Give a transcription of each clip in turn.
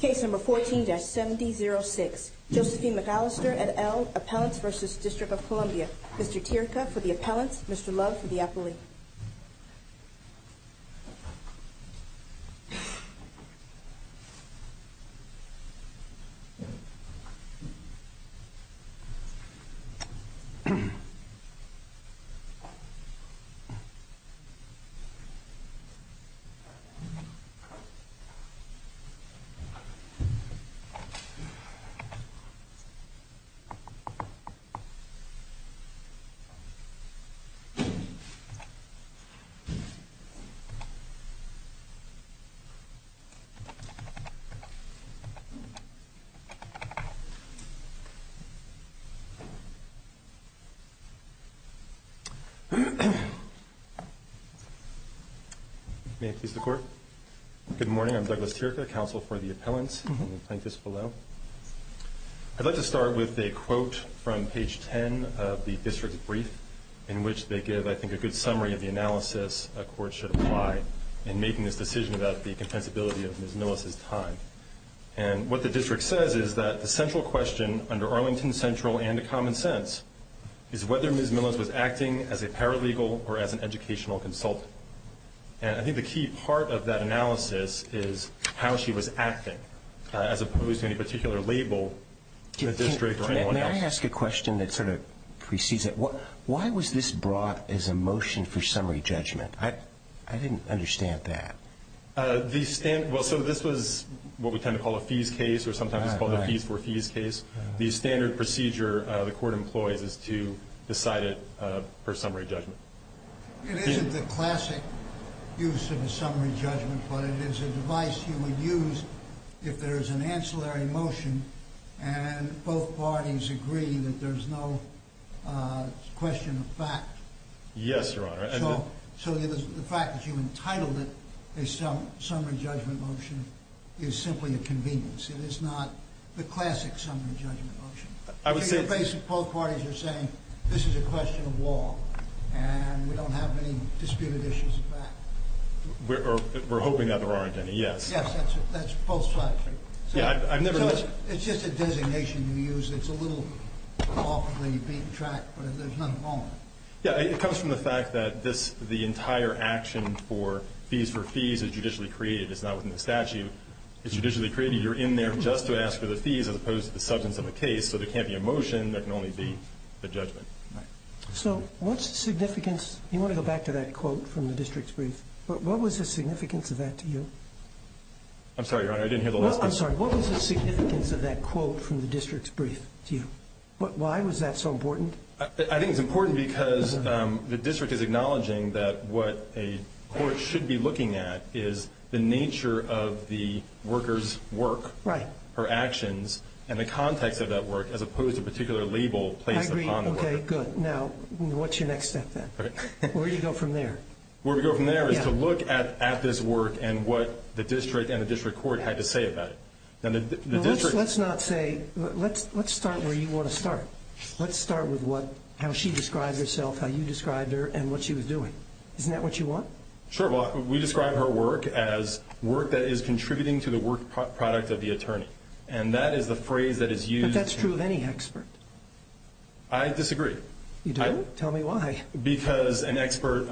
Case number 14-7006, Josephine McAllister et al, Appellants v. District of Columbia. Mr. Tirca for the appellants, Mr. Love for the appellee. May it please the Court, good morning, I'm Douglas Tirca. I'd like to start with a quote from page 10 of the district brief in which they give I think a good summary of the analysis a court should apply in making this decision about the compensability of Ms. Millis' time. And what the district says is that the central question under Arlington Central and the common sense is whether Ms. Millis was acting as a paralegal or as an educational consultant. And I think the key part of that analysis is how she was acting as opposed to any particular label in the district or anyone else. May I ask a question that sort of precedes it? Why was this brought as a motion for summary judgment? I didn't understand that. So this was what we tend to call a fees case or sometimes it's called a fees for fees case. The standard procedure the court employs is to decide it per summary judgment. It isn't the classic use of a summary judgment, but it is a device you would use if there is an ancillary motion and both parties agree that there's no question of fact. Yes, Your Honor. So the fact that you entitled it a summary judgment motion is simply a convenience. It is not the classic summary judgment motion. I would say both parties are saying this is a question of law and we don't have any disputed issues of fact. We're hoping that there aren't any, yes. Yes, that's both sides. So it's just a designation you use. It's a little awkwardly being tracked, but there's nothing wrong with it. Yeah, it comes from the fact that the entire action for fees for fees is judicially created. It's not within the statute. It's judicially created. You're in there just to ask for the fees as opposed to the substance of the case. So there can't be a motion. There can only be a judgment. So what's the significance? You want to go back to that quote from the district's brief. What was the significance of that to you? I'm sorry, Your Honor. I didn't hear the last part. I'm sorry. What was the significance of that quote from the district's brief to you? Why was that so important? I think it's important because the district is acknowledging that what a court should be looking at is the nature of the worker's work, her actions, and the context of that work as opposed to a particular label placed upon the worker. I agree. Okay, good. Now, what's your next step then? Where do you go from there? Where we go from there is to look at this work and what the district and the district court had to say about it. Let's start where you want to start. Let's start with how she described herself, how you described her, and what she was doing. Isn't that what you want? Sure. Well, we describe her work as work that is contributing to the work product of the attorney. And that is the phrase that is used. But that's true of any expert. I disagree. You don't? Tell me why. Because an expert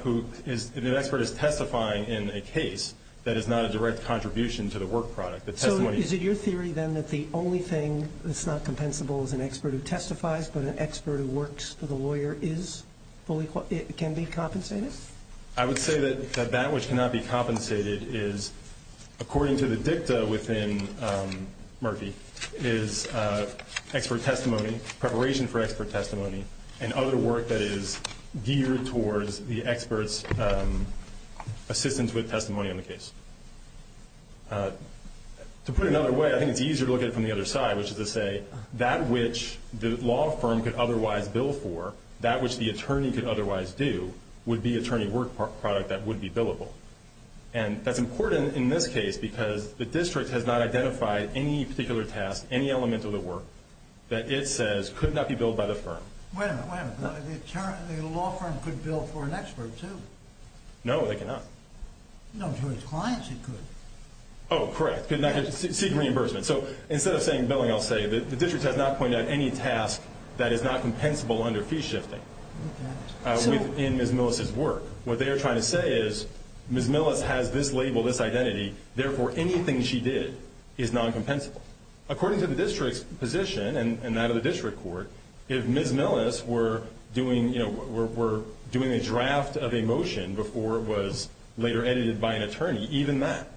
is testifying in a case that is not a direct contribution to the work product. So is it your theory then that the only thing that's not compensable is an expert who testifies, but an expert who works for the lawyer can be compensated? I would say that that which cannot be compensated is, according to the dicta within Murphy, is expert testimony, preparation for expert testimony, and other work that is geared towards the expert's assistance with testimony on the case. To put it another way, I think it's easier to look at it from the other side, which is to say that which the law firm could otherwise bill for, that which the attorney could otherwise do, would be attorney work product that would be billable. And that's important in this case because the district has not identified any particular task, any element of the work, that it says could not be billed by the firm. Wait a minute. Wait a minute. The law firm could bill for an expert, too. No, they cannot. No, to its clients it could. Oh, correct. Could not get... Seek reimbursement. So instead of saying billing, I'll say that the district has not pointed out any task that is not compensable under fee shifting. Okay. So... In Ms. Millis's work. What they are trying to say is Ms. Millis has this label, this identity, therefore anything she did is non-compensable. According to the district's position, and that of the district court, if Ms. Millis were doing, you know, were doing a draft of a motion before it was later edited by an attorney, even that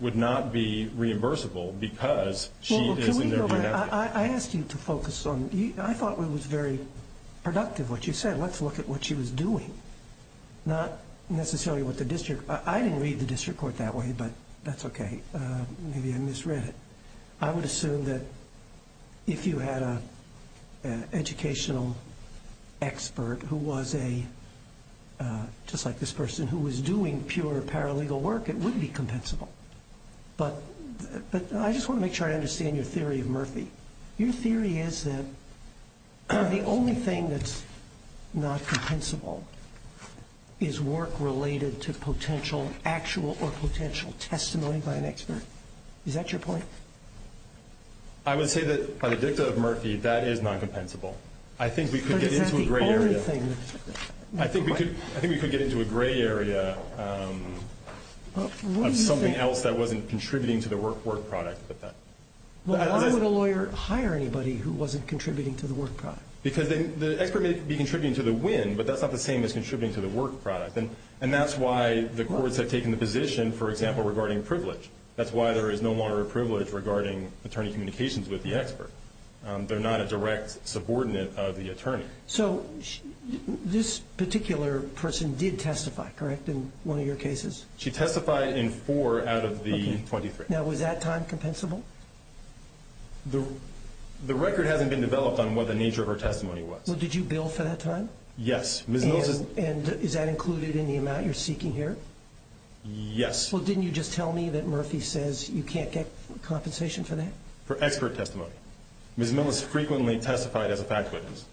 would not be reimbursable because she is... Can we go back? I asked you to focus on... I thought it was very productive what you said. Let's look at what she was doing. Not necessarily what the district... I didn't read the district court that way, but that's okay. Maybe I misread it. I would assume that if you had an educational expert who was a... Just like this person who was doing pure paralegal work, it would be compensable. But I just want to make sure I understand your theory of Murphy. Your theory is that the only thing that's not compensable is work related to potential actual or potential testimony by an expert. Is that your point? I would say that by the dicta of Murphy, that is non-compensable. But is that the only thing... Anything else that wasn't contributing to the work product with that? Why would a lawyer hire anybody who wasn't contributing to the work product? Because the expert may be contributing to the win, but that's not the same as contributing to the work product. And that's why the courts have taken the position, for example, regarding privilege. That's why there is no longer a privilege regarding attorney communications with the expert. They're not a direct subordinate of the attorney. So this particular person did testify, correct, in one of your cases? She testified in four out of the 23. Now, was that time compensable? The record hasn't been developed on what the nature of her testimony was. Well, did you bill for that time? Yes. And is that included in the amount you're seeking here? Yes. Well, didn't you just tell me that Murphy says you can't get compensation for that? For expert testimony. Ms. Millis frequently testified as a fact witness.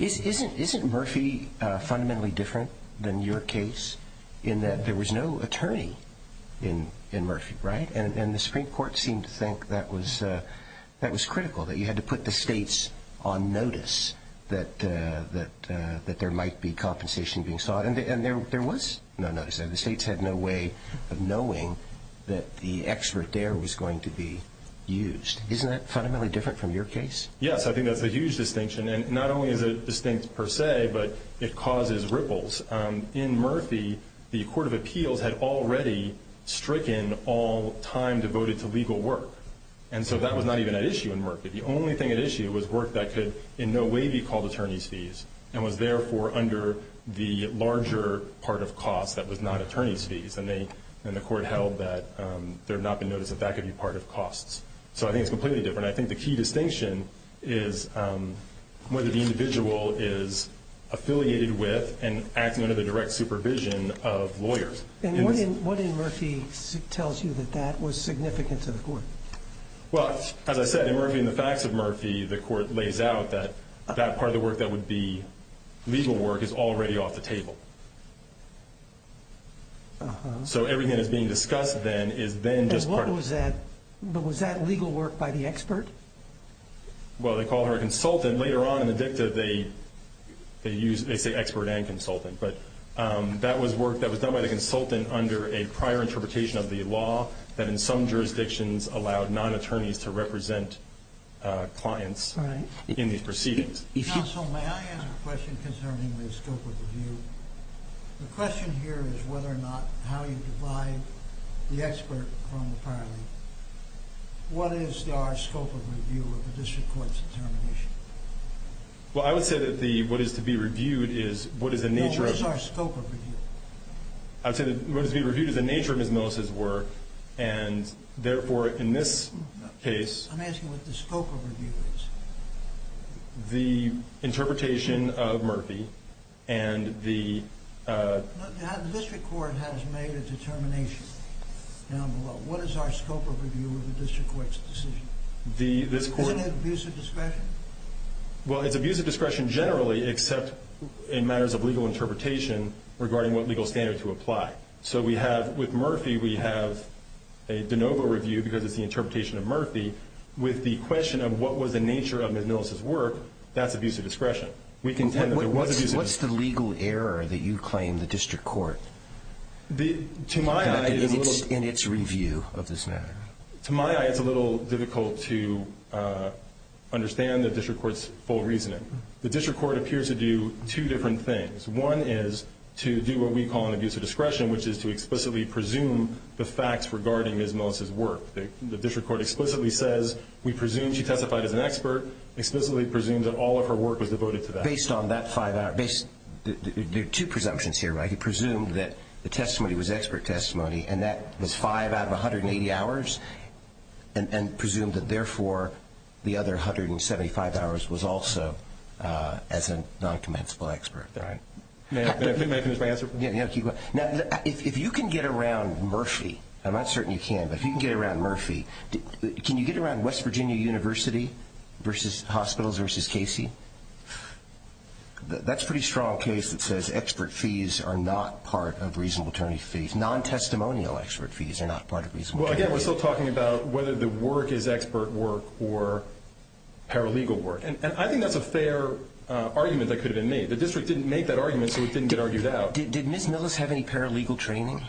Isn't Murphy fundamentally different than your case in that there was no attorney in Murphy, right? And the Supreme Court seemed to think that was critical, that you had to put the states on notice that there might be compensation being sought. And there was no notice. The states had no way of knowing that the expert there was going to be used. Isn't that fundamentally different from your case? Yes. I think that's a huge distinction. And not only is it distinct per se, but it causes ripples. In Murphy, the Court of Appeals had already stricken all time devoted to legal work. And so that was not even at issue in Murphy. The only thing at issue was work that could in no way be called attorney's fees and was therefore under the larger part of costs that was not attorney's fees. So I think it's completely different. I think the key distinction is whether the individual is affiliated with and acting under the direct supervision of lawyers. And what in Murphy tells you that that was significant to the court? Well, as I said, in Murphy and the Facts of Murphy, the court lays out that that part of the work that would be legal work is already off the table. But was that legal work by the expert? Well, they call her a consultant. Later on in the dicta, they say expert and consultant. But that was work that was done by the consultant under a prior interpretation of the law that in some jurisdictions allowed non-attorneys to represent clients in these proceedings. Counsel, may I ask a question concerning the scope of the view? The question here is whether or not how you divide the expert from the paralegal. What is our scope of review of a district court's determination? Well, I would say that what is to be reviewed is what is the nature of— No, what is our scope of review? I would say that what is to be reviewed is the nature of Ms. Millicent's work, and therefore in this case— I'm asking what the scope of review is. The interpretation of Murphy and the— The district court has made a determination down below. What is our scope of review of a district court's decision? This court— Isn't it abuse of discretion? Well, it's abuse of discretion generally, except in matters of legal interpretation regarding what legal standards would apply. So with Murphy, we have a de novo review because it's the interpretation of Murphy with the question of what was the nature of Ms. Millicent's work. That's abuse of discretion. We contend that there was abuse of discretion. What's the legal error that you claim the district court had in its review of this matter? To my eye, it's a little difficult to understand the district court's full reasoning. The district court appears to do two different things. One is to do what we call an abuse of discretion, which is to explicitly presume the facts regarding Ms. Millicent's work. The district court explicitly says we presume she testified as an expert, explicitly presumes that all of her work was devoted to that. Based on that five-hour— There are two presumptions here, right? He presumed that the testimony was expert testimony, and that was five out of 180 hours, and presumed that, therefore, the other 175 hours was also as a noncommensable expert. May I finish my answer, please? Yeah, keep going. Now, if you can get around Murphy— I'm not certain you can, but if you can get around Murphy, can you get around West Virginia University hospitals versus Casey? That's a pretty strong case that says expert fees are not part of reasonable attorney fees. Non-testimonial expert fees are not part of reasonable attorney fees. Well, again, we're still talking about whether the work is expert work or paralegal work, and I think that's a fair argument that could have been made. The district didn't make that argument, so it didn't get argued out. Did Ms. Millicent have any paralegal training?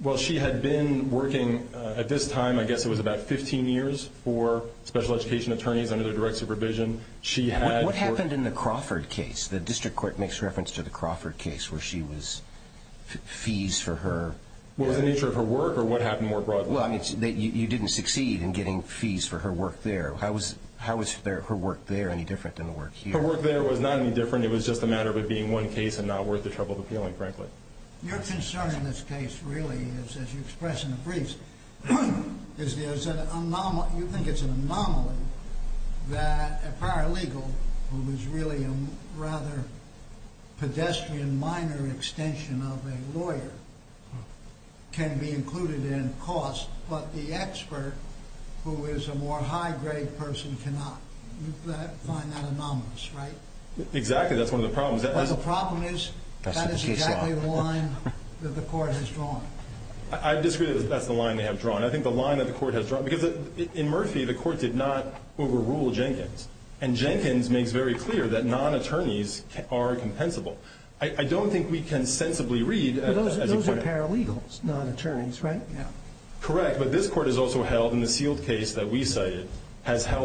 Well, she had been working at this time, I guess it was about 15 years, for special education attorneys under their direct supervision. What happened in the Crawford case? The district court makes reference to the Crawford case where she was—fees for her— What was the nature of her work, or what happened more broadly? Well, I mean, you didn't succeed in getting fees for her work there. How was her work there any different than the work here? Her work there was not any different. It was just a matter of it being one case and not worth the trouble of appealing, frankly. Your concern in this case really is, as you express in the briefs, is there's an anomaly—you think it's an anomaly that a paralegal, who is really a rather pedestrian minor extension of a lawyer, can be included in costs, but the expert, who is a more high-grade person, cannot. You find that anomalous, right? Exactly. That's one of the problems. But the problem is that is exactly the line that the court has drawn. I disagree that that's the line they have drawn. I think the line that the court has drawn—because in Murphy, the court did not overrule Jenkins, and Jenkins makes very clear that non-attorneys are compensable. I don't think we can sensibly read— But those are paralegals, non-attorneys, right? Correct, but this court has also held, in the sealed case that we cited, It's hard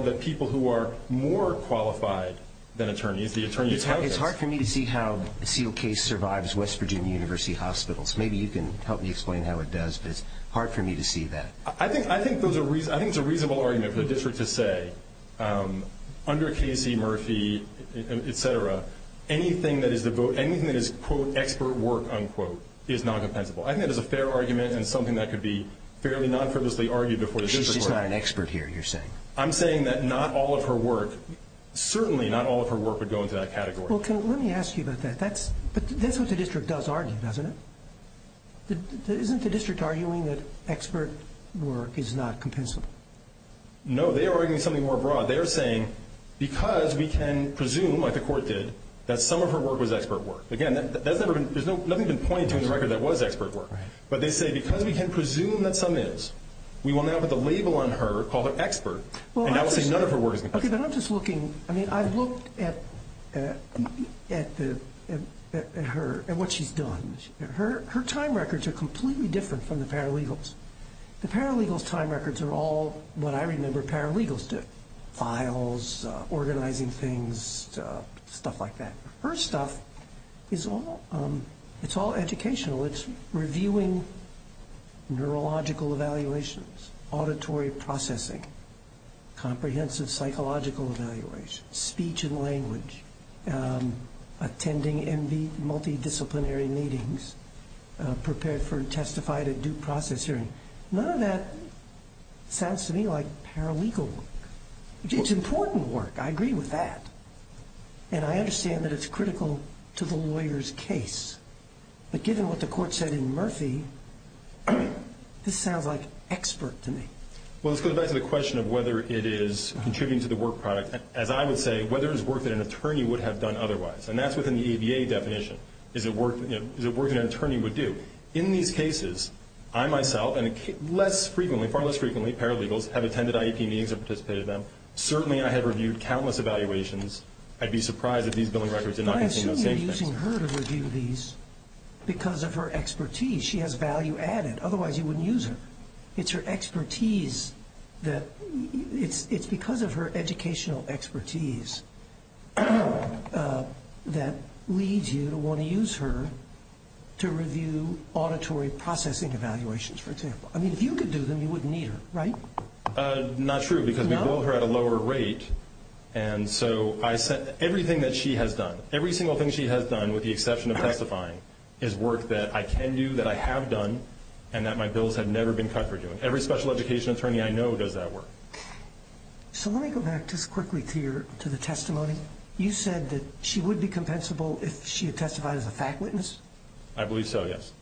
for me to see how a sealed case survives West Virginia University Hospitals. Maybe you can help me explain how it does, but it's hard for me to see that. I think it's a reasonable argument for the district to say, under Casey, Murphy, etc., anything that is, quote, expert work, unquote, is non-compensable. I think that is a fair argument and something that could be fairly non-purposely argued before the district court. She's not an expert here, you're saying. I'm saying that not all of her work—certainly not all of her work would go into that category. Well, let me ask you about that. That's what the district does argue, doesn't it? Isn't the district arguing that expert work is not compensable? No, they are arguing something more broad. They are saying because we can presume, like the court did, that some of her work was expert work. Again, there's nothing been pointed to in the record that was expert work. Right. But they say because we can presume that some is, we will now put the label on her, call her expert, and I will say none of her work is. Okay, but I'm just looking. I mean, I've looked at her and what she's done. Her time records are completely different from the paralegals. The paralegals' time records are all what I remember paralegals do, files, organizing things, stuff like that. Her stuff is all educational. It's reviewing neurological evaluations, auditory processing, comprehensive psychological evaluation, speech and language, attending multidisciplinary meetings, prepared to testify at a due process hearing. None of that sounds to me like paralegal work. It's important work. I agree with that. And I understand that it's critical to the lawyer's case. But given what the court said in Murphy, this sounds like expert to me. Well, let's go back to the question of whether it is contributing to the work product. As I would say, whether it's work that an attorney would have done otherwise. And that's within the ABA definition. Is it work that an attorney would do? In these cases, I myself and far less frequently paralegals have attended IEP meetings and participated in them. Certainly I have reviewed countless evaluations. I'd be surprised if these billing records did not contain those same things. You're using her to review these because of her expertise. She has value added. Otherwise you wouldn't use her. It's her expertise that – it's because of her educational expertise that leads you to want to use her to review auditory processing evaluations, for example. I mean, if you could do them, you wouldn't need her, right? Not true, because we bill her at a lower rate. And so everything that she has done, every single thing she has done with the exception of testifying, is work that I can do, that I have done, and that my bills have never been cut for doing. Every special education attorney I know does that work. So let me go back just quickly to the testimony. You said that she would be compensable if she had testified as a fact witness? I believe so, yes.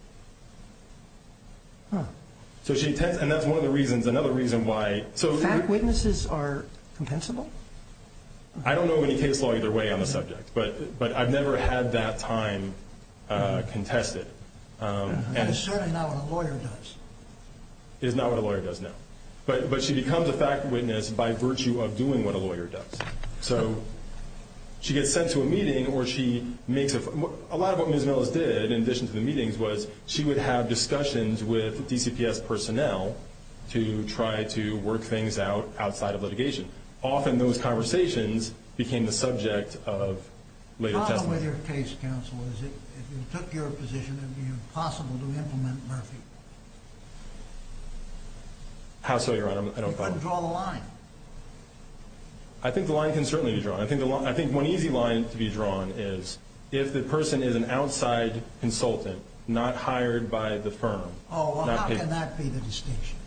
So she – and that's one of the reasons. Fact witnesses are compensable? I don't know any case law either way on the subject, but I've never had that time contested. That is certainly not what a lawyer does. It is not what a lawyer does, no. But she becomes a fact witness by virtue of doing what a lawyer does. So she gets sent to a meeting or she makes a – to try to work things out outside of litigation. Often those conversations became the subject of later testimony. Problem with your case, counsel, is if you took your position, it would be impossible to implement Murphy. How so, Your Honor? I don't – You couldn't draw the line. I think the line can certainly be drawn. I think one easy line to be drawn is if the person is an outside consultant, not hired by the firm. Oh, well, how can that be the distinction?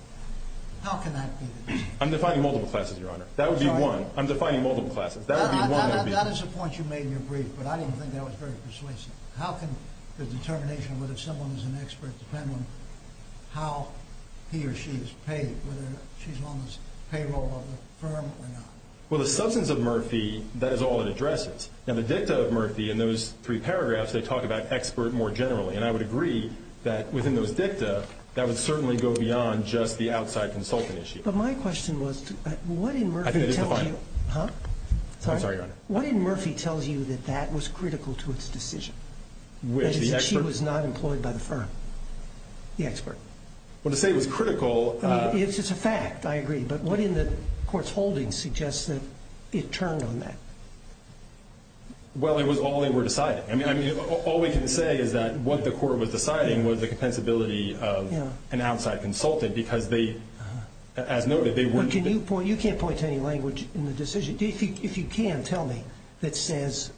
How can that be the distinction? I'm defining multiple classes, Your Honor. That would be one. I'm defining multiple classes. That would be one. That is a point you made in your brief, but I didn't think that was very persuasive. How can the determination whether someone is an expert depend on how he or she is paid, whether she's on the payroll of the firm or not? Well, the substance of Murphy, that is all it addresses. Now, the dicta of Murphy in those three paragraphs, they talk about expert more generally. And I would agree that within those dicta, that would certainly go beyond just the outside consultant issue. But my question was, what in Murphy tells you – I think it's a fine – Huh? I'm sorry, Your Honor. What in Murphy tells you that that was critical to its decision? Which, the expert? That is, that she was not employed by the firm. The expert. Well, to say it was critical – I mean, it's a fact. I agree. But what in the court's holdings suggests that it turned on that? Well, it was all they were deciding. I mean, all we can say is that what the court was deciding was the compensability of an outside consultant because they, as noted, they were – But can you point – you can't point to any language in the decision. If you can, tell me that says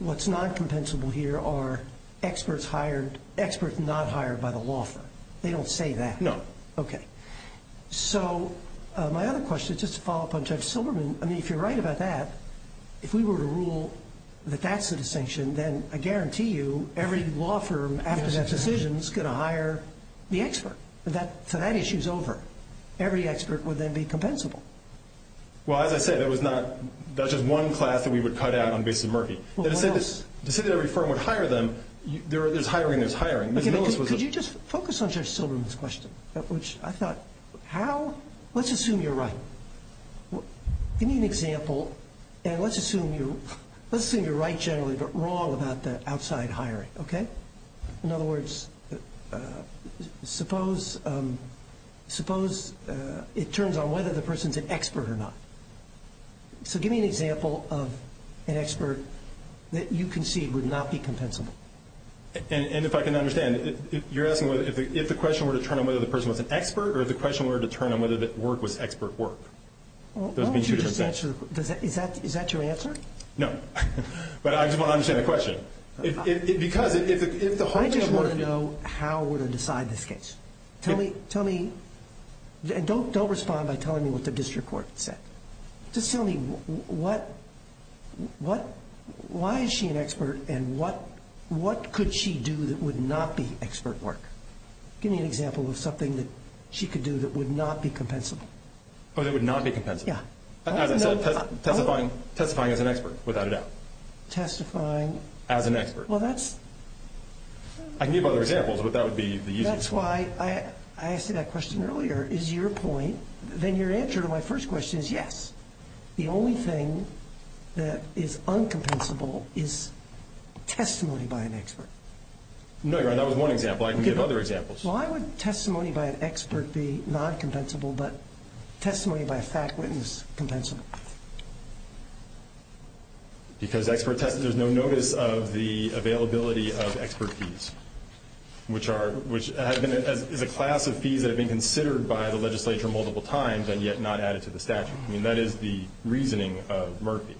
what's non-compensable here are experts hired – experts not hired by the law firm. They don't say that. No. Okay. So my other question, just to follow up on Judge Silberman, I mean, if you're right about that, if we were to rule that that's the distinction, then I guarantee you every law firm after that decision is going to hire the expert. So that issue's over. Every expert would then be compensable. Well, as I said, that was not – that's just one class that we would cut out on the basis of Murphy. Well, what else? To say that every firm would hire them, there's hiring, there's hiring. Ms. Millis was – Could you just focus on Judge Silberman's question, which I thought, how – let's assume you're right. Give me an example, and let's assume you're right generally but wrong about the outside hiring, okay? In other words, suppose it turns on whether the person's an expert or not. So give me an example of an expert that you concede would not be compensable. And if I can understand, you're asking if the question were to turn on whether the person was an expert or if the question were to turn on whether the work was expert work. Well, why don't you just answer – is that your answer? No. But I just want to understand the question. Because if the whole issue were to be – I just want to know how we're going to decide this case. Tell me – and don't respond by telling me what the district court said. Just tell me what – why is she an expert and what could she do that would not be expert work? Give me an example of something that she could do that would not be compensable. Oh, that would not be compensable? Yeah. As I said, testifying as an expert, without a doubt. Testifying? As an expert. Well, that's – I can give you other examples, but that would be the easiest one. That's why I asked you that question earlier. Is your point – then your answer to my first question is yes. The only thing that is uncompensable is testimony by an expert. No, Your Honor. That was one example. I can give other examples. Why would testimony by an expert be non-compensable but testimony by a fact witness compensable? Because expert – there's no notice of the availability of expert fees, which is a class of fees that have been considered by the legislature multiple times and yet not added to the statute. I mean, that is the reasoning of Murphy.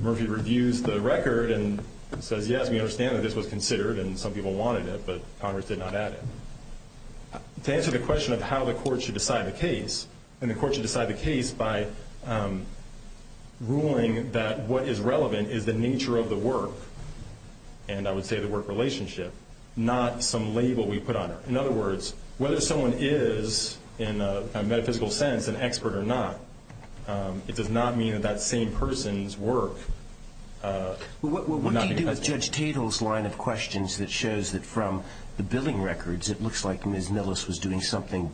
Murphy reviews the record and says, yes, we understand that this was considered and some people wanted it, but Congress did not add it. To answer the question of how the court should decide the case, and the court should decide the case by ruling that what is relevant is the nature of the work, and I would say the work relationship, not some label we put on it. In other words, whether someone is, in a metaphysical sense, an expert or not, it does not mean that that same person's work would not be compensable. What do you do with Judge Tatel's line of questions that shows that from the billing records it looks like Ms. Nillis was doing something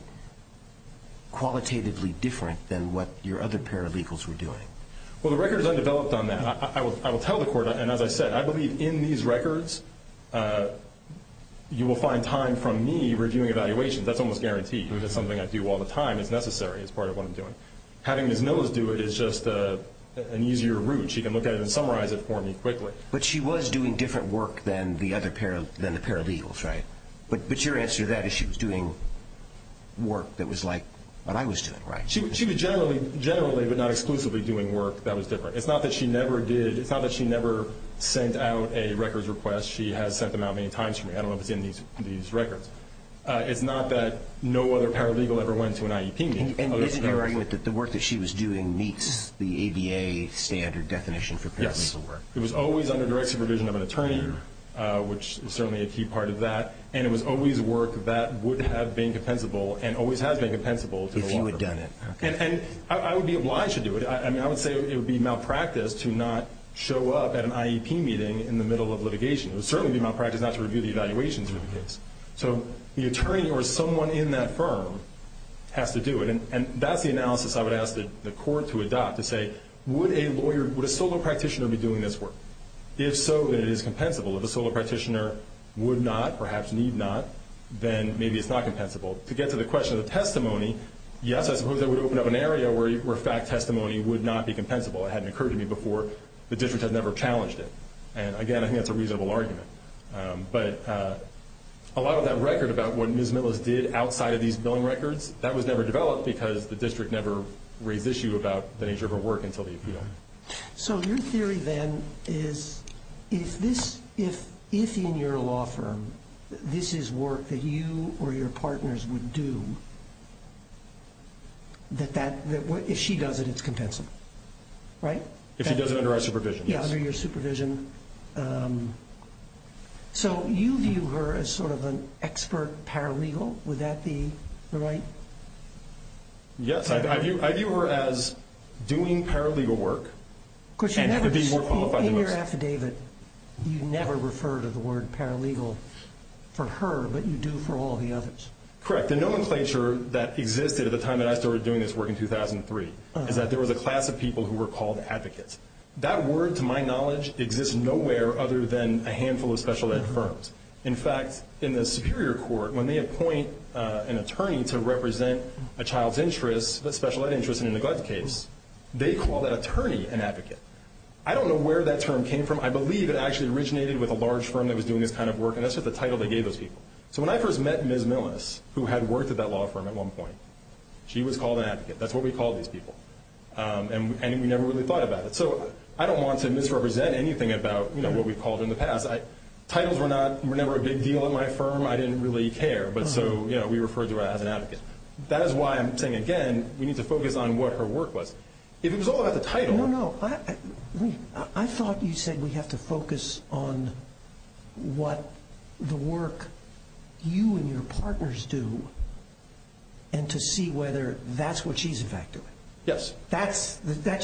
qualitatively different than what your other paralegals were doing? Well, the record is undeveloped on that. I will tell the court, and as I said, I believe in these records you will find time from me reviewing evaluations. That's almost guaranteed. It's something I do all the time. It's necessary. It's part of what I'm doing. Having Ms. Nillis do it is just an easier route. She can look at it and summarize it for me quickly. But she was doing different work than the paralegals, right? But your answer to that is she was doing work that was like what I was doing, right? She was generally, but not exclusively, doing work that was different. It's not that she never sent out a records request. She has sent them out many times to me. I don't know if it's in these records. It's not that no other paralegal ever went to an IEP meeting. And isn't there argument that the work that she was doing meets the ADA standard definition for paralegal work? Yes. It was always under direct supervision of an attorney, which is certainly a key part of that. And it was always work that would have been compensable and always has been compensable to the law firm. If you had done it. And I would be obliged to do it. I would say it would be malpractice to not show up at an IEP meeting in the middle of litigation. It would certainly be malpractice not to review the evaluations of the case. So the attorney or someone in that firm has to do it. And that's the analysis I would ask the court to adopt, to say would a solo practitioner be doing this work? If so, then it is compensable. If a solo practitioner would not, perhaps need not, then maybe it's not compensable. To get to the question of the testimony, yes, I suppose that would open up an area where fact testimony would not be compensable. It hadn't occurred to me before. The district had never challenged it. And, again, I think that's a reasonable argument. But a lot of that record about what Ms. Millis did outside of these billing records, that was never developed because the district never raised the issue about the nature of her work until the appeal. So your theory, then, is if in your law firm, this is work that you or your partners would do, if she does it, it's compensable, right? If she does it under our supervision, yes. Under your supervision. So you view her as sort of an expert paralegal. Would that be right? Yes. I view her as doing paralegal work and being more qualified than most. In your affidavit, you never refer to the word paralegal for her, but you do for all the others. Correct. The nomenclature that existed at the time that I started doing this work in 2003 is that there was a class of people who were called advocates. That word, to my knowledge, exists nowhere other than a handful of special ed firms. In fact, in the Superior Court, when they appoint an attorney to represent a child's interests, a special ed interest in a neglect case, they call that attorney an advocate. I don't know where that term came from. I believe it actually originated with a large firm that was doing this kind of work, and that's just the title they gave those people. So when I first met Ms. Millis, who had worked at that law firm at one point, she was called an advocate. That's what we called these people. And we never really thought about it. So I don't want to misrepresent anything about what we've called in the past. Titles were never a big deal at my firm. I didn't really care, but so we referred to her as an advocate. That is why I'm saying, again, we need to focus on what her work was. If it was all about the title. No, no. I thought you said we have to focus on what the work you and your partners do and to see whether that's what she's effectively. Yes. That's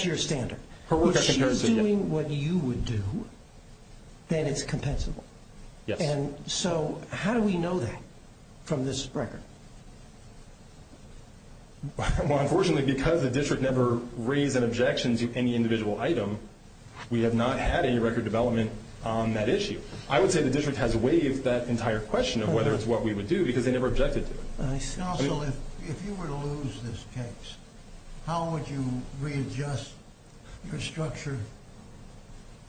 your standard. If she's doing what you would do, then it's compensable. Yes. So how do we know that from this record? Well, unfortunately, because the district never raised an objection to any individual item, we have not had any record development on that issue. I would say the district has waived that entire question of whether it's what we would do because they never objected to it. And also, if you were to lose this case, how would you readjust your structure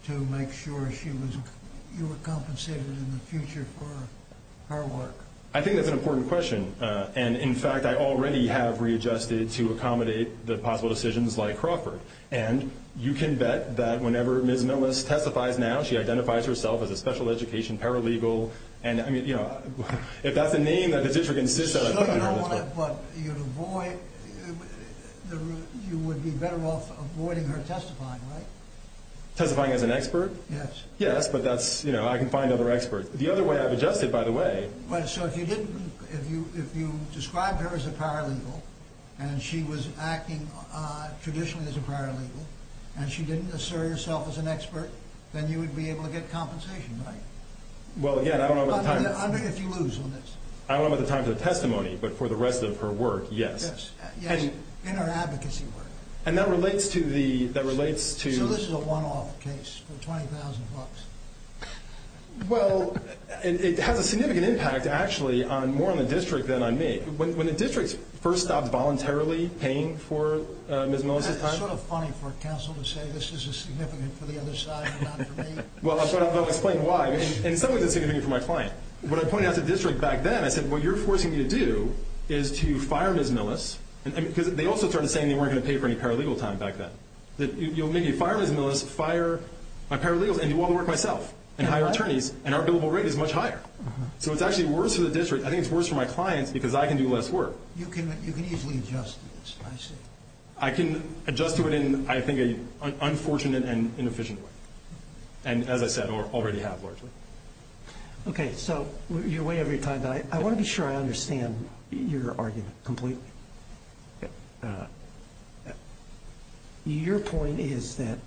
to make sure you were compensated in the future for her work? I think that's an important question. And, in fact, I already have readjusted to accommodate the possible decisions like Crawford. And you can bet that whenever Ms. Millis testifies now, she identifies herself as a special education paralegal. And, I mean, you know, if that's the name that the district insists on. But you would be better off avoiding her testifying, right? Testifying as an expert? Yes. Yes, but that's, you know, I can find other experts. The other way I've adjusted, by the way. So if you described her as a paralegal and she was acting traditionally as a paralegal and she didn't assert herself as an expert, then you would be able to get compensation, right? Well, again, I don't know about the time. I mean, if you lose on this. I don't know about the time for the testimony, but for the rest of her work, yes. Yes. In her advocacy work. And that relates to the, that relates to. So this is a one-off case for $20,000. Well, it has a significant impact, actually, more on the district than on me. When the district first stopped voluntarily paying for Ms. Millis' time. That's sort of funny for counsel to say this is significant for the other side and not for me. Well, I'll explain why. In some ways it's significant for my client. When I pointed out to the district back then, I said what you're forcing me to do is to fire Ms. Millis. Because they also started saying they weren't going to pay for any paralegal time back then. You'll make me fire Ms. Millis, fire my paralegals and do all the work myself and hire attorneys. And our billable rate is much higher. So it's actually worse for the district. I think it's worse for my clients because I can do less work. You can easily adjust to this. I see. I can adjust to it in, I think, an unfortunate and inefficient way. And, as I said, already have largely. Okay. So you're way over your time. I want to be sure I understand your argument completely. Your point is that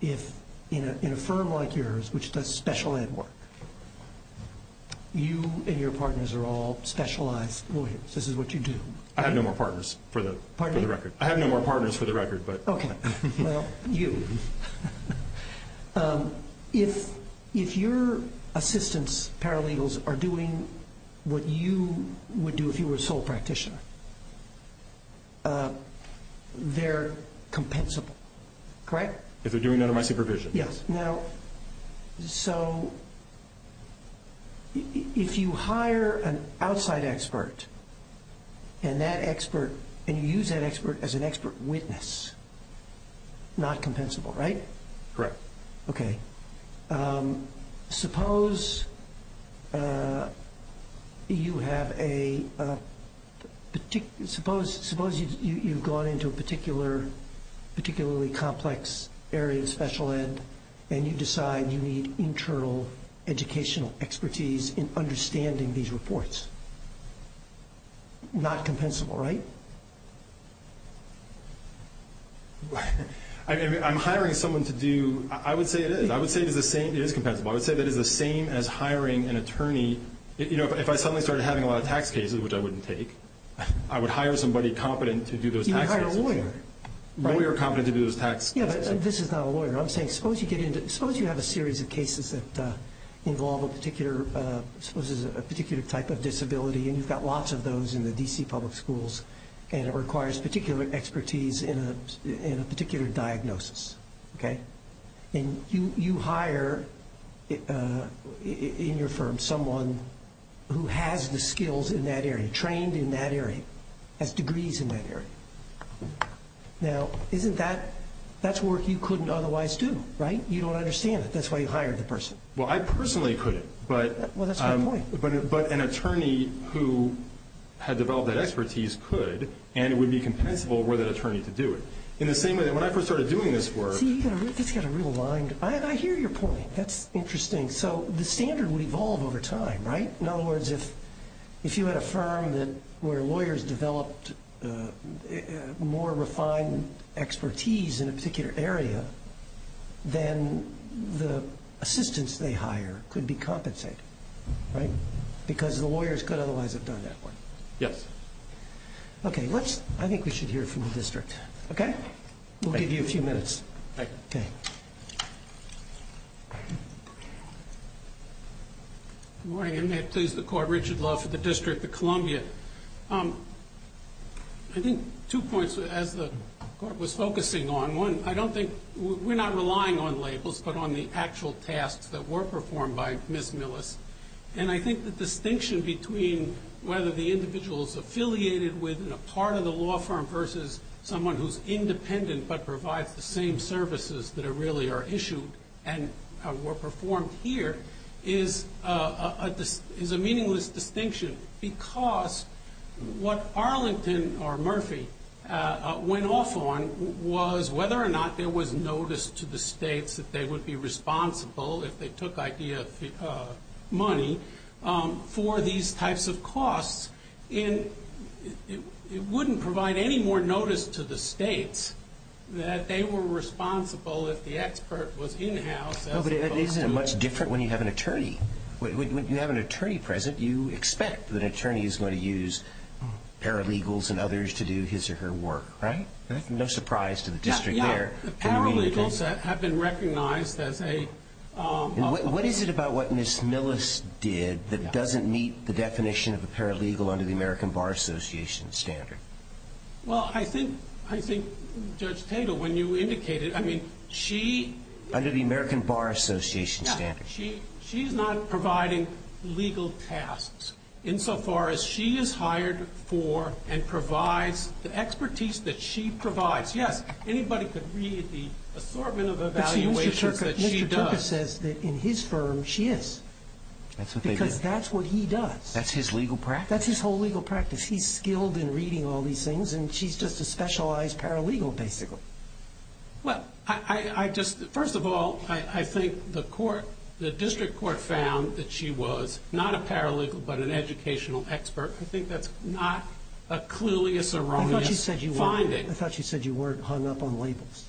in a firm like yours, which does special ed work, you and your partners are all specialized lawyers. This is what you do. I have no more partners for the record. Pardon me? I have no more partners for the record. Okay. Well, you. If your assistants, paralegals, are doing what you would do if you were a sole practitioner, they're compensable. Correct? If they're doing under my supervision. Yes. Now, so if you hire an outside expert and that expert, and you use that expert as an expert witness, not compensable, right? Okay. Suppose you have a particular, suppose you've gone into a particular, particularly complex area of special ed, and you decide you need internal educational expertise in understanding these reports. Not compensable, right? I'm hiring someone to do, I would say it is. I would say it is the same, it is compensable. I would say that it is the same as hiring an attorney. You know, if I suddenly started having a lot of tax cases, which I wouldn't take, I would hire somebody competent to do those tax cases. You would hire a lawyer, right? A lawyer competent to do those tax cases. Yeah, but this is not a lawyer. I'm saying suppose you get into, suppose you have a series of cases that involve a particular, suppose there's a particular type of disability, and you've got lots of those in the D.C. public schools, and it requires particular expertise in a particular diagnosis, okay? And you hire in your firm someone who has the skills in that area, trained in that area, has degrees in that area. Now, isn't that, that's work you couldn't otherwise do, right? You don't understand it. That's why you hired the person. Well, I personally couldn't. Well, that's my point. But an attorney who had developed that expertise could, and it would be compensable were that attorney to do it. In the same way, when I first started doing this work. See, this has got a real line. I hear your point. That's interesting. So the standard would evolve over time, right? In other words, if you had a firm where lawyers developed more refined expertise in a particular area, then the assistance they hire could be compensated, right? Because the lawyers could otherwise have done that work. Yes. Okay, let's, I think we should hear from the district, okay? We'll give you a few minutes. Okay. Good morning, and may it please the Court, Richard Love for the District of Columbia. I think two points, as the Court was focusing on. One, I don't think, we're not relying on labels, but on the actual tasks that were performed by Ms. Millis. And I think the distinction between whether the individual is affiliated with a part of the law firm versus someone who's independent but provides the same services that really are issued and were performed here, is a meaningless distinction. Because what Arlington or Murphy went off on was whether or not there was notice to the states that they would be responsible, if they took idea of money, for these types of costs. And it wouldn't provide any more notice to the states that they were responsible if the expert was in-house. But isn't it much different when you have an attorney? When you have an attorney present, you expect that an attorney is going to use paralegals and others to do his or her work, right? No surprise to the district there. Paralegals have been recognized as a... What is it about what Ms. Millis did that doesn't meet the definition of a paralegal under the American Bar Association standard? Well, I think Judge Tatel, when you indicated, I mean, she... Under the American Bar Association standard. She's not providing legal tasks, insofar as she is hired for and provides the expertise that she provides. Yes, anybody could read the assortment of evaluations that she does. Mr. Turcotte says that in his firm, she is. That's what they did. Because that's what he does. That's his legal practice? That's his whole legal practice. He's skilled in reading all these things, and she's just a specialized paralegal, basically. Well, I just... First of all, I think the court, the district court found that she was not a paralegal, but an educational expert. I think that's not a clueless or wrong finding. I thought you said you weren't hung up on labels.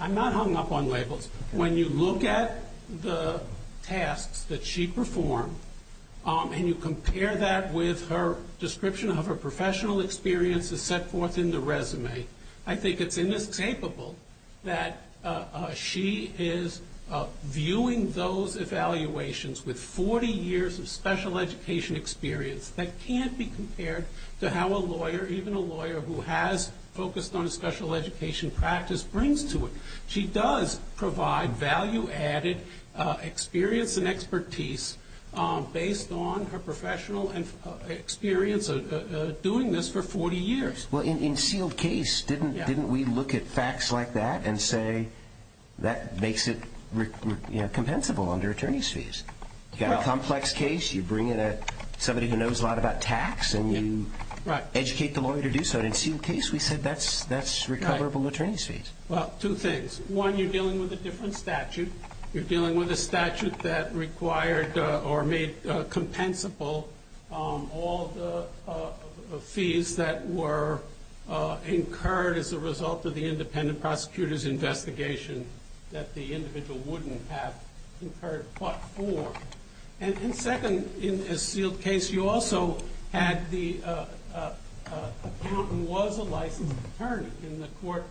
I'm not hung up on labels. When you look at the tasks that she performed and you compare that with her description of her professional experience as set forth in the resume, I think it's inescapable that she is viewing those evaluations with 40 years of special education experience that can't be compared to how a lawyer, even a lawyer who has focused on a special education practice, brings to it. She does provide value-added experience and expertise based on her professional experience doing this for 40 years. Well, in sealed case, didn't we look at facts like that and say that makes it compensable under attorney's fees? You've got a complex case. You bring in somebody who knows a lot about tax, and you educate the lawyer to do so. In sealed case, we said that's recoverable attorney's fees. Well, two things. One, you're dealing with a different statute. You're dealing with a statute that required or made compensable all the fees that were incurred as a result of the independent prosecutor's investigation that the individual wouldn't have incurred but for. And second, in a sealed case, you also had the accountant was a licensed attorney, and the court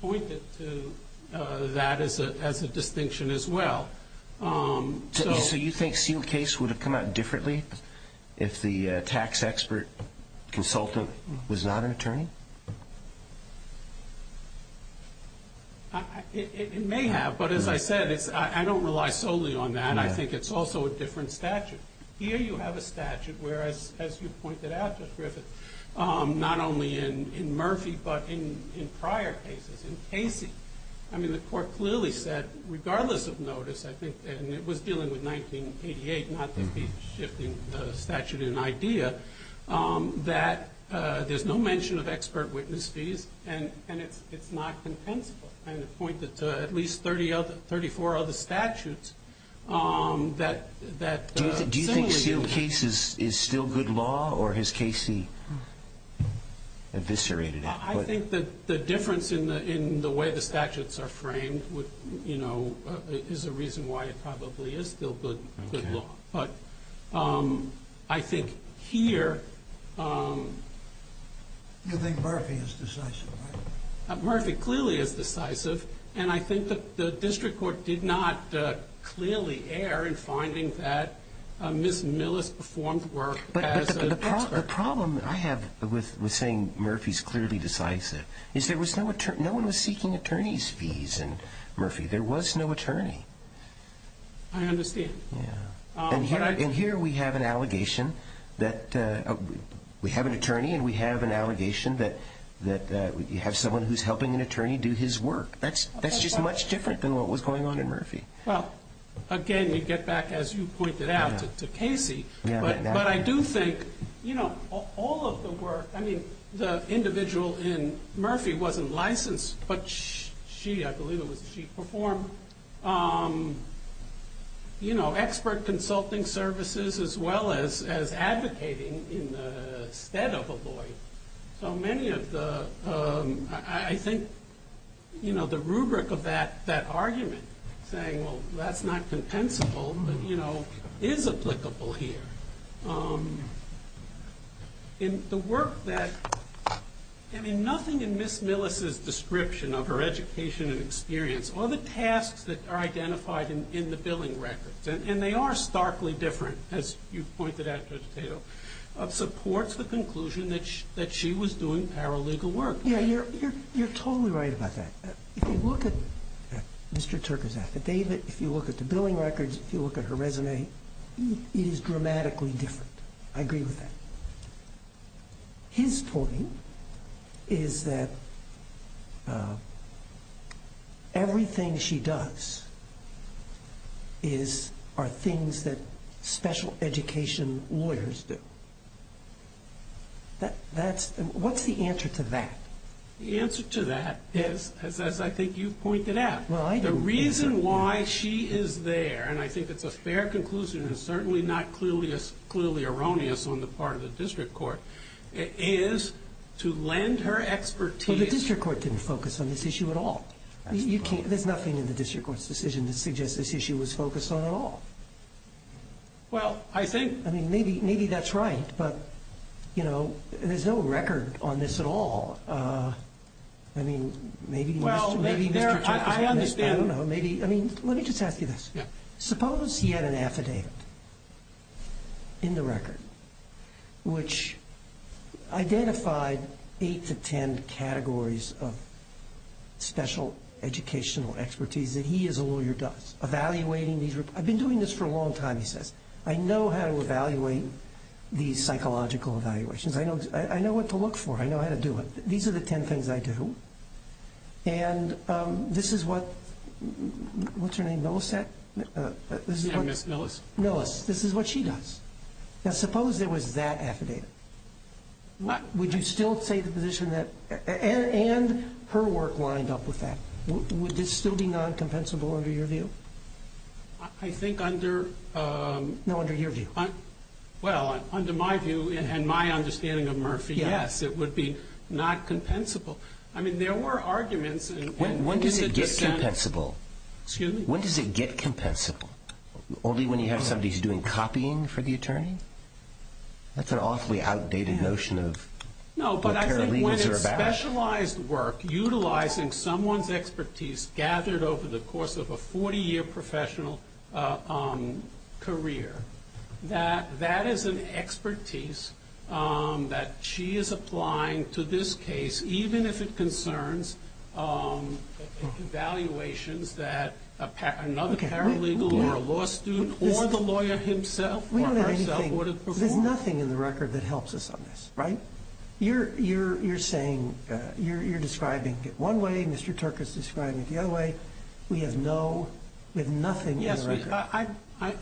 pointed to that as a distinction as well. So you think sealed case would have come out differently if the tax expert consultant was not an attorney? It may have, but as I said, I don't rely solely on that. And I think it's also a different statute. Here you have a statute where, as you pointed out, Judge Griffith, not only in Murphy but in prior cases, in Casey. I mean, the court clearly said, regardless of notice, I think, and it was dealing with 1988, not shifting the statute in idea, that there's no mention of expert witness fees, and it's not compensable. And it pointed to at least 34 other statutes that similarly... Do you think sealed case is still good law, or has Casey eviscerated it? I think that the difference in the way the statutes are framed is a reason why it probably is still good law. Okay. But I think here... You think Murphy is decisive, right? Murphy clearly is decisive, and I think that the district court did not clearly err in finding that Ms. Millis performed work as an expert. But the problem I have with saying Murphy's clearly decisive is there was no attorney. No one was seeking attorney's fees in Murphy. There was no attorney. I understand. And here we have an allegation that we have an attorney, and we have an allegation that you have someone who's helping an attorney do his work. That's just much different than what was going on in Murphy. Well, again, you get back, as you pointed out, to Casey. But I do think all of the work... I mean, the individual in Murphy wasn't licensed, but she, I believe it was she, performed expert consulting services as well as advocating in the stead of a lawyer. So many of the... I think, you know, the rubric of that argument, saying, well, that's not compensable, but, you know, is applicable here. In the work that... I mean, nothing in Ms. Millis's description of her education and experience or the tasks that are identified in the billing records, and they are starkly different, as you pointed out, Judge Tato, supports the conclusion that she was doing paralegal work. Yeah, you're totally right about that. If you look at Mr. Turker's affidavit, if you look at the billing records, if you look at her resume, it is dramatically different. I agree with that. His point is that everything she does are things that special education lawyers do. That's... What's the answer to that? The answer to that is, as I think you've pointed out, the reason why she is there, and I think it's a fair conclusion and certainly not clearly erroneous on the part of the district court, is to lend her expertise... But the district court didn't focus on this issue at all. You can't... There's nothing in the district court's decision to suggest this issue was focused on at all. Well, I think... I mean, maybe that's right, but, you know, there's no record on this at all. I mean, maybe Mr. Turker... Well, there... I understand... I don't know. Maybe... I mean, let me just ask you this. Suppose he had an affidavit in the record which identified 8 to 10 categories of special educational expertise that he as a lawyer does. Evaluating these... I've been doing this for a long time, he says. I know how to evaluate these psychological evaluations. I know what to look for. I know how to do it. These are the 10 things I do. And this is what... What's her name? Millicent? Yeah, Ms. Millis. Millis. This is what she does. Now, suppose there was that affidavit. Would you still say the position that... And her work lined up with that. Would this still be non-compensable under your view? I think under... No, under your view. Well, under my view and my understanding of Murphy, yes, it would be not compensable. I mean, there were arguments... When does it get compensable? Excuse me? When does it get compensable? Only when you have somebody who's doing copying for the attorney? That's an awfully outdated notion of what paralegals are about. No, but I think when it's specialized work utilizing someone's expertise gathered over the course of a 40-year professional career, that that is an expertise that she is applying to this case, even if it concerns evaluations that another paralegal or a law student or the lawyer himself or herself would have performed. There's nothing in the record that helps us on this, right? You're saying... You're describing it one way. Mr. Turk is describing it the other way. We have no... We have nothing in the record.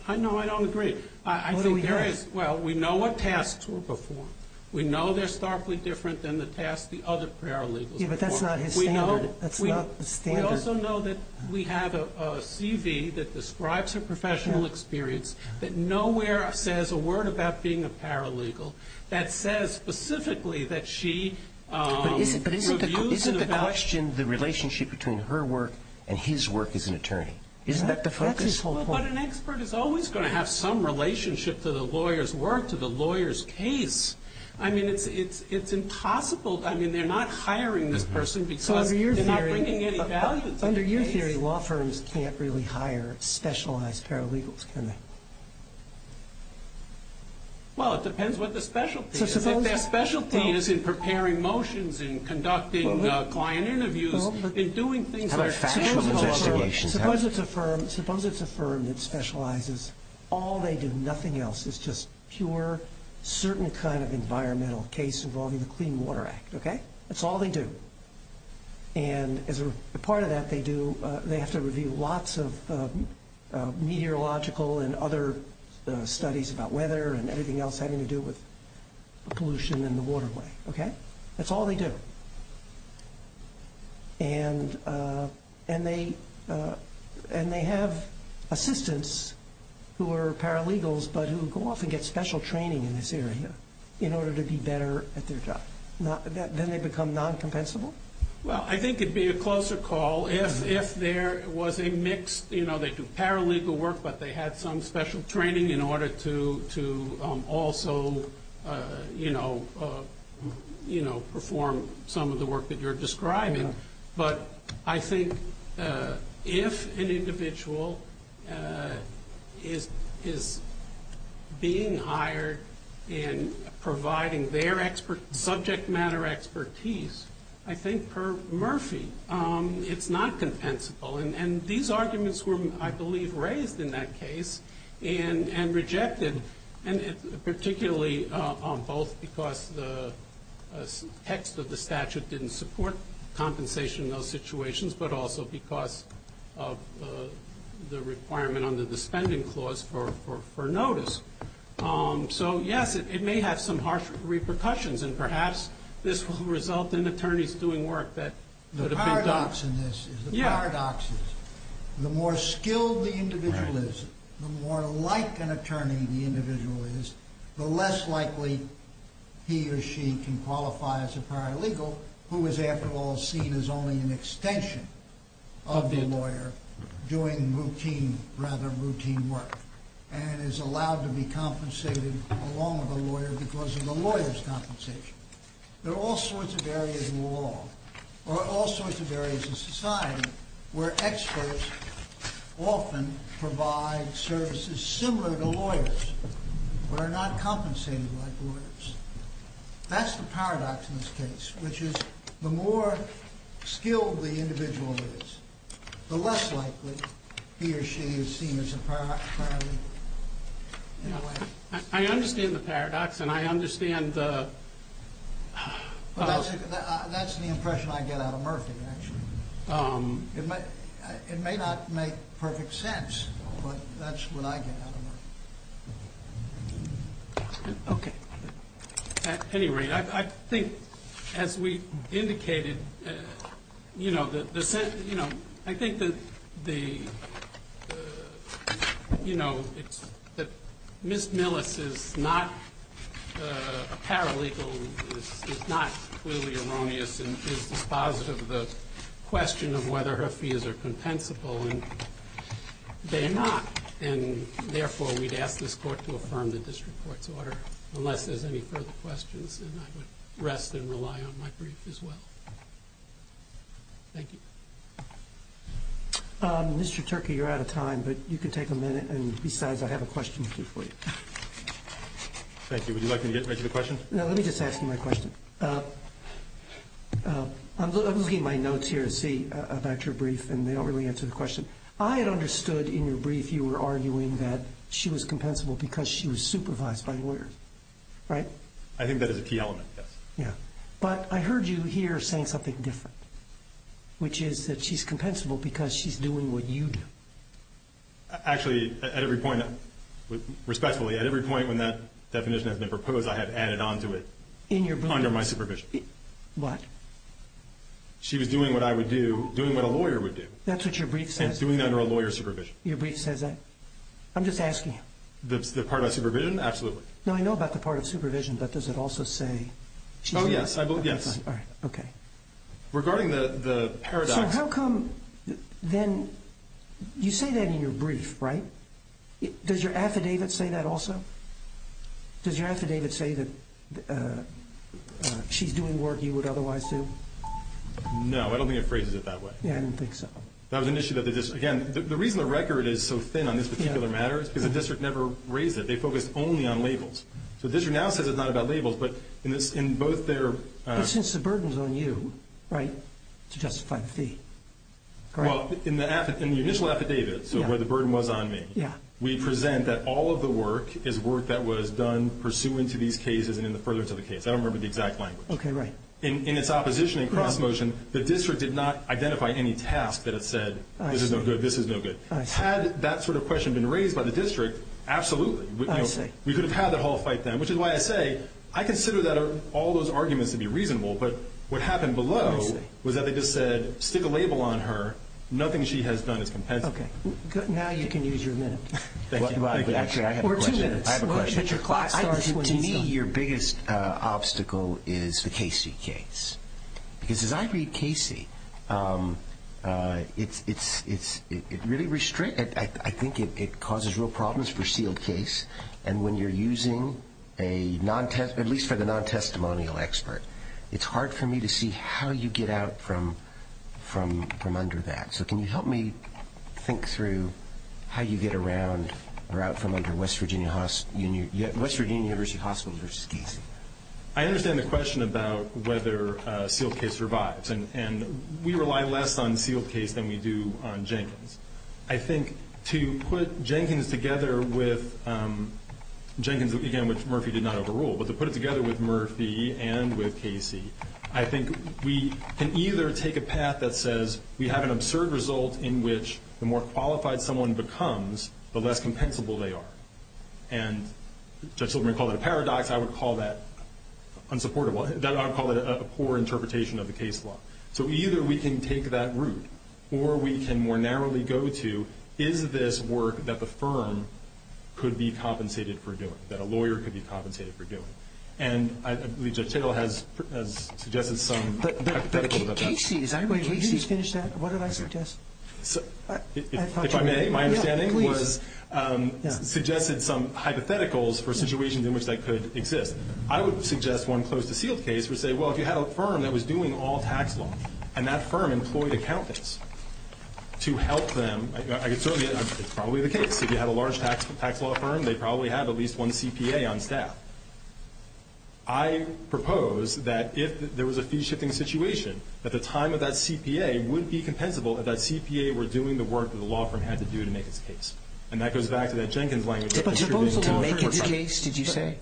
I know I don't agree. I think there is... What do we have? Well, we know what tasks were performed. We know they're starkly different than the tasks the other paralegals performed. Yeah, but that's not his standard. We know... That's not the standard. We also know that we have a CV that describes her professional experience that nowhere says a word about being a paralegal. That says specifically that she... But isn't the question the relationship between her work and his work as an attorney? Isn't that the focus? That's his whole point. But an expert is always going to have some relationship to the lawyer's work, to the lawyer's case. I mean, it's impossible. I mean, they're not hiring this person because they're not bringing any value to the case. Under your theory, law firms can't really hire specialized paralegals, can they? Well, it depends what their specialty is. If their specialty is in preparing motions and conducting client interviews and doing things... Suppose it's a firm that specializes... All they do, nothing else, is just pure, certain kind of environmental case involving the Clean Water Act. That's all they do. And as a part of that, they have to review lots of meteorological and other studies about weather and everything else having to do with pollution in the waterway. That's all they do. And they have assistants who are paralegals but who go off and get special training in this area in order to be better at their job. Then they become non-compensable? Well, I think it'd be a closer call if there was a mixed... some of the work that you're describing. But I think if an individual is being hired and providing their subject matter expertise, I think, per Murphy, it's not compensable. And these arguments were, I believe, raised in that case and rejected, particularly both because the text of the statute didn't support compensation in those situations, but also because of the requirement under the spending clause for notice. So, yes, it may have some harsh repercussions, and perhaps this will result in attorneys doing work that could have been done... The paradox in this is the paradox is the more skilled the individual is, the more like an attorney the individual is, the less likely he or she can qualify as a paralegal, who is, after all, seen as only an extension of the lawyer doing routine, rather routine work, and is allowed to be compensated along with the lawyer because of the lawyer's compensation. There are all sorts of areas in law, or all sorts of areas in society, where experts often provide services similar to lawyers, but are not compensated like lawyers. That's the paradox in this case, which is the more skilled the individual is, the less likely he or she is seen as a paralegal. I understand the paradox, and I understand the... It may not make perfect sense, but that's what I get out of it. Okay. At any rate, I think, as we indicated, you know, the sense... You know, I think that the... You know, that Ms. Millis is not a paralegal is not clearly erroneous and is dispositive of the question of whether her fees are compensable, and they're not. And therefore, we'd ask this Court to affirm the district court's order, unless there's any further questions. And I would rest and rely on my brief as well. Thank you. Mr. Turkey, you're out of time, but you can take a minute. And besides, I have a question or two for you. Thank you. Would you like me to get right to the question? No, let me just ask you my question. I'm looking at my notes here to see about your brief, and they don't really answer the question. I had understood in your brief you were arguing that she was compensable because she was supervised by lawyers. Right? I think that is a key element, yes. Yeah. But I heard you here saying something different, which is that she's compensable because she's doing what you do. Actually, at every point, respectfully, at every point when that definition has been proposed, I have added on to it. In your brief? Under my supervision. What? She was doing what I would do, doing what a lawyer would do. That's what your brief says? And doing that under a lawyer's supervision. Your brief says that? I'm just asking. The part of supervision? Absolutely. No, I know about the part of supervision, but does it also say she's doing it? Oh, yes. Yes. All right. Okay. Regarding the paradox. So how come then you say that in your brief, right? Does your affidavit say that also? Does your affidavit say that she's doing work you would otherwise do? No, I don't think it phrases it that way. Yeah, I didn't think so. That was an issue that the district. Again, the reason the record is so thin on this particular matter is because the district never raised it. They focused only on labels. So the district now says it's not about labels, but in both their... I guess the burden's on you, right, to justify the fee, correct? Well, in the initial affidavit, so where the burden was on me... Yeah. We present that all of the work is work that was done pursuant to these cases and in the furtherance of the case. I don't remember the exact language. Okay, right. In its opposition and cross-motion, the district did not identify any task that it said this is no good, this is no good. Had that sort of question been raised by the district, absolutely. I see. We could have had that whole fight then, which is why I say I consider all those arguments to be reasonable, but what happened below was that they just said stick a label on her. Nothing she has done is compensable. Okay. Now you can use your minute. Thank you. Actually, I have a question. Or two minutes. I have a question. To me, your biggest obstacle is the Casey case. Because as I read Casey, it really restricts... I think it causes real problems for sealed case. And when you're using a non-test, at least for the non-testimonial expert, it's hard for me to see how you get out from under that. So can you help me think through how you get around or out from under West Virginia University Hospital versus Casey? I understand the question about whether a sealed case survives. And we rely less on sealed case than we do on Jenkins. I think to put Jenkins together with, Jenkins, again, which Murphy did not overrule, but to put it together with Murphy and with Casey, I think we can either take a path that says we have an absurd result in which the more qualified someone becomes, the less compensable they are. And Judge Silverman called it a paradox. I would call that unsupportable. I would call it a poor interpretation of the case law. So either we can take that route or we can more narrowly go to, is this work that the firm could be compensated for doing, that a lawyer could be compensated for doing? And I believe Judge Tittle has suggested some hypotheticals about that. But Casey, is that where Casey finished at? What did I suggest? If I may, my understanding was suggested some hypotheticals for situations in which that could exist. I would suggest one close to sealed case would say, well, if you had a firm that was doing all tax law and that firm employed accountants to help them, it's probably the case. If you had a large tax law firm, they probably had at least one CPA on staff. I propose that if there was a fee-shifting situation, that the time of that CPA would be compensable if that CPA were doing the work that the law firm had to do to make its case. And that goes back to that Jenkins language. But to make its case, did you say?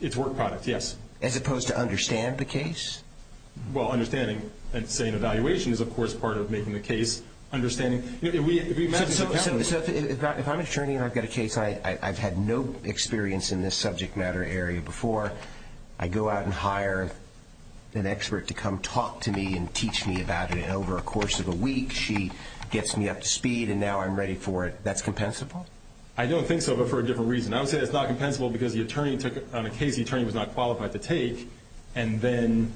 Its work product, yes. As opposed to understand the case? Well, understanding and saying evaluation is, of course, part of making the case, understanding. So if I'm an attorney and I've got a case I've had no experience in this subject matter area before, I go out and hire an expert to come talk to me and teach me about it. And over a course of a week, she gets me up to speed and now I'm ready for it. That's compensable? I don't think so, but for a different reason. I would say it's not compensable because the attorney took it on a case the attorney was not qualified to take and then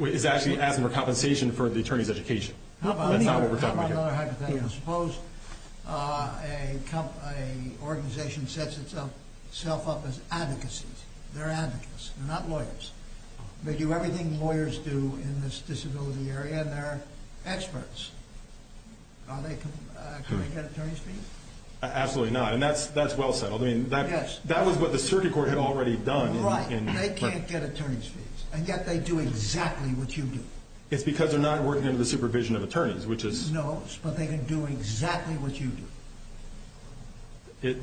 is actually asking for compensation for the attorney's education. That's not what we're talking about. How about another hypothetical? Suppose an organization sets itself up as advocacy. They're advocates, they're not lawyers. They do everything lawyers do in this disability area and they're experts. Can they get attorney's fees? Absolutely not, and that's well settled. That was what the circuit court had already done. Right, and they can't get attorney's fees, and yet they do exactly what you do. It's because they're not working under the supervision of attorneys, which is... No, but they can do exactly what you do.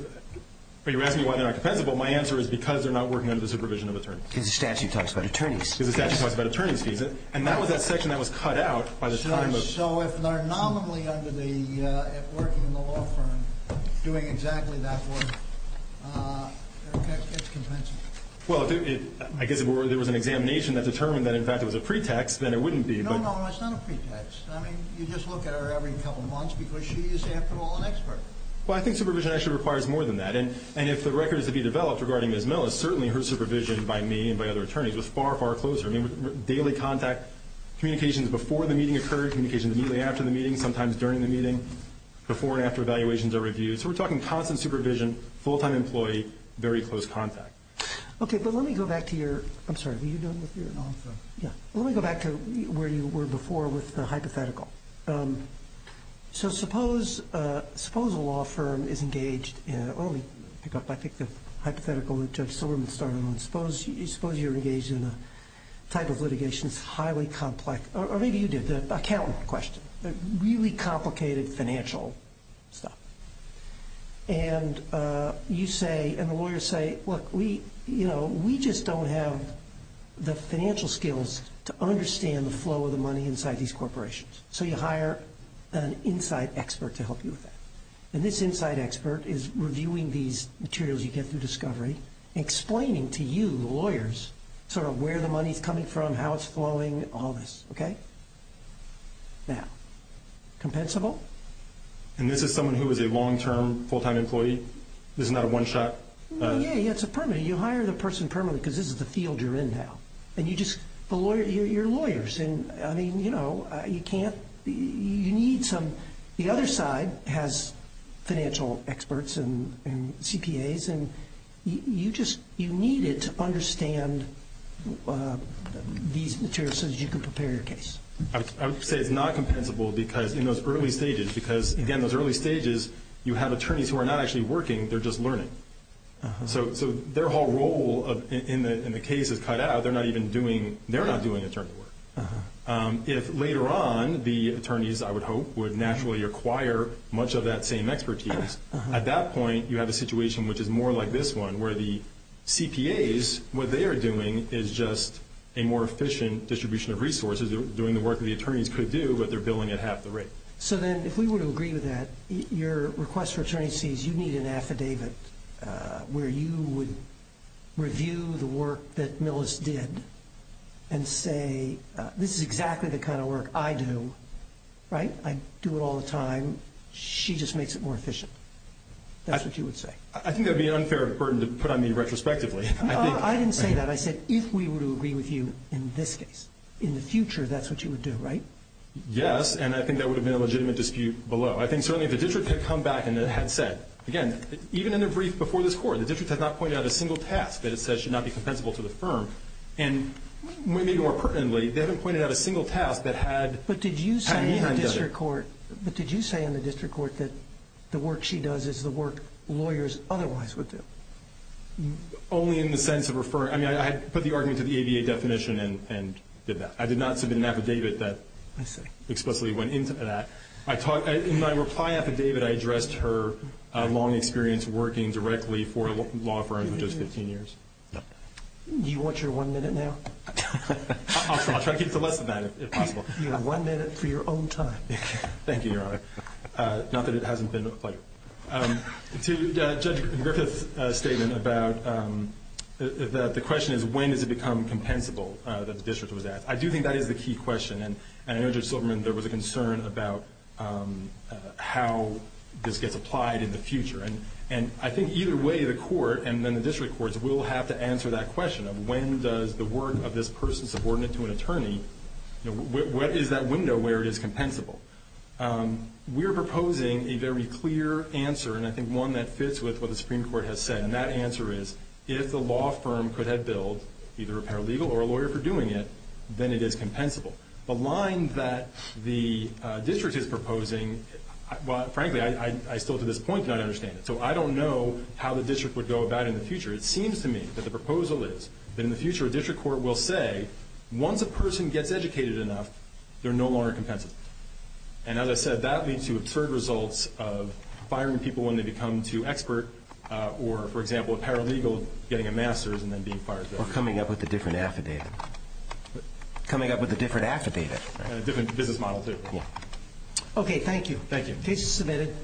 You're asking me why they're not compensable. My answer is because they're not working under the supervision of attorneys. Because the statute talks about attorneys. Because the statute talks about attorney's fees. And that was that section that was cut out by the time of... doing exactly that one. It's compensable. Well, I guess if there was an examination that determined that, in fact, it was a pretext, then it wouldn't be, but... No, no, it's not a pretext. I mean, you just look at her every couple months because she is, after all, an expert. Well, I think supervision actually requires more than that, and if the record is to be developed regarding Ms. Millis, certainly her supervision by me and by other attorneys was far, far closer. communications immediately after the meeting, sometimes during the meeting, before and after evaluations are reviewed. So we're talking constant supervision, full-time employee, very close contact. Okay, but let me go back to your... I'm sorry, were you done with your answer? Yeah. Let me go back to where you were before with the hypothetical. So suppose a law firm is engaged in... Well, let me pick up, I think, the hypothetical that Judge Silverman started on. Suppose you're engaged in a type of litigation that's highly complex. Or maybe you did, the accountant question. Really complicated financial stuff. And you say, and the lawyers say, look, we just don't have the financial skills to understand the flow of the money inside these corporations. So you hire an inside expert to help you with that. And this inside expert is reviewing these materials you get through discovery and explaining to you, the lawyers, sort of where the money is coming from, how it's flowing, all this, okay? Now, compensable? And this is someone who is a long-term, full-time employee? This is not a one-shot? Yeah, yeah, it's a permanent. You hire the person permanently because this is the field you're in now. And you just... You're lawyers, and, I mean, you know, you can't... You need some... The other side has financial experts and CPAs, and you just need it to understand these materials so that you can prepare your case. I would say it's not compensable because in those early stages, because, again, those early stages, you have attorneys who are not actually working. They're just learning. So their whole role in the case is cut out. They're not even doing... They're not doing attorney work. If later on, the attorneys, I would hope, would naturally acquire much of that same expertise, at that point, you have a situation which is more like this one, where the CPAs, what they are doing is just a more efficient distribution of resources. They're doing the work that the attorneys could do, but they're billing at half the rate. So then, if we were to agree with that, your request for attorney fees, you need an affidavit where you would review the work that Millis did and say, this is exactly the kind of work I do, right? I do it all the time. She just makes it more efficient. That's what you would say. I think that would be an unfair burden to put on me retrospectively. No, I didn't say that. I said if we were to agree with you in this case, in the future, that's what you would do, right? Yes, and I think that would have been a legitimate dispute below. I think certainly if the district had come back and had said... Again, even in the brief before this Court, the district has not pointed out a single task that it says should not be compensable to the firm. And maybe more pertinently, they haven't pointed out a single task that had... But did you say in the district court that the work she does is the work lawyers otherwise would do? Only in the sense of referring... I mean, I had put the argument to the ABA definition and did that. I did not submit an affidavit that explicitly went into that. In my reply affidavit, I addressed her long experience working directly for a law firm for just 15 years. Do you want your one minute now? I'll try to keep to less than that if possible. You have one minute for your own time. Thank you, Your Honor. Not that it hasn't been a pleasure. To Judge Griffith's statement about... The question is when does it become compensable that the district was asked. I do think that is the key question. And I know Judge Silverman, there was a concern about how this gets applied in the future. And I think either way, the court and then the district courts will have to answer that question of when does the work of this person subordinate to an attorney... What is that window where it is compensable? We are proposing a very clear answer, and I think one that fits with what the Supreme Court has said. And that answer is if the law firm could have billed either a paralegal or a lawyer for doing it, then it is compensable. The line that the district is proposing... Frankly, I still to this point do not understand it. So I don't know how the district would go about it in the future. It seems to me that the proposal is that in the future a district court will say once a person gets educated enough, they are no longer compensable. And as I said, that leads to absurd results of firing people when they become too expert or, for example, a paralegal getting a master's and then being fired. Or coming up with a different affidavit. Coming up with a different affidavit. And a different business model, too. Okay, thank you. Thank you. Case is submitted.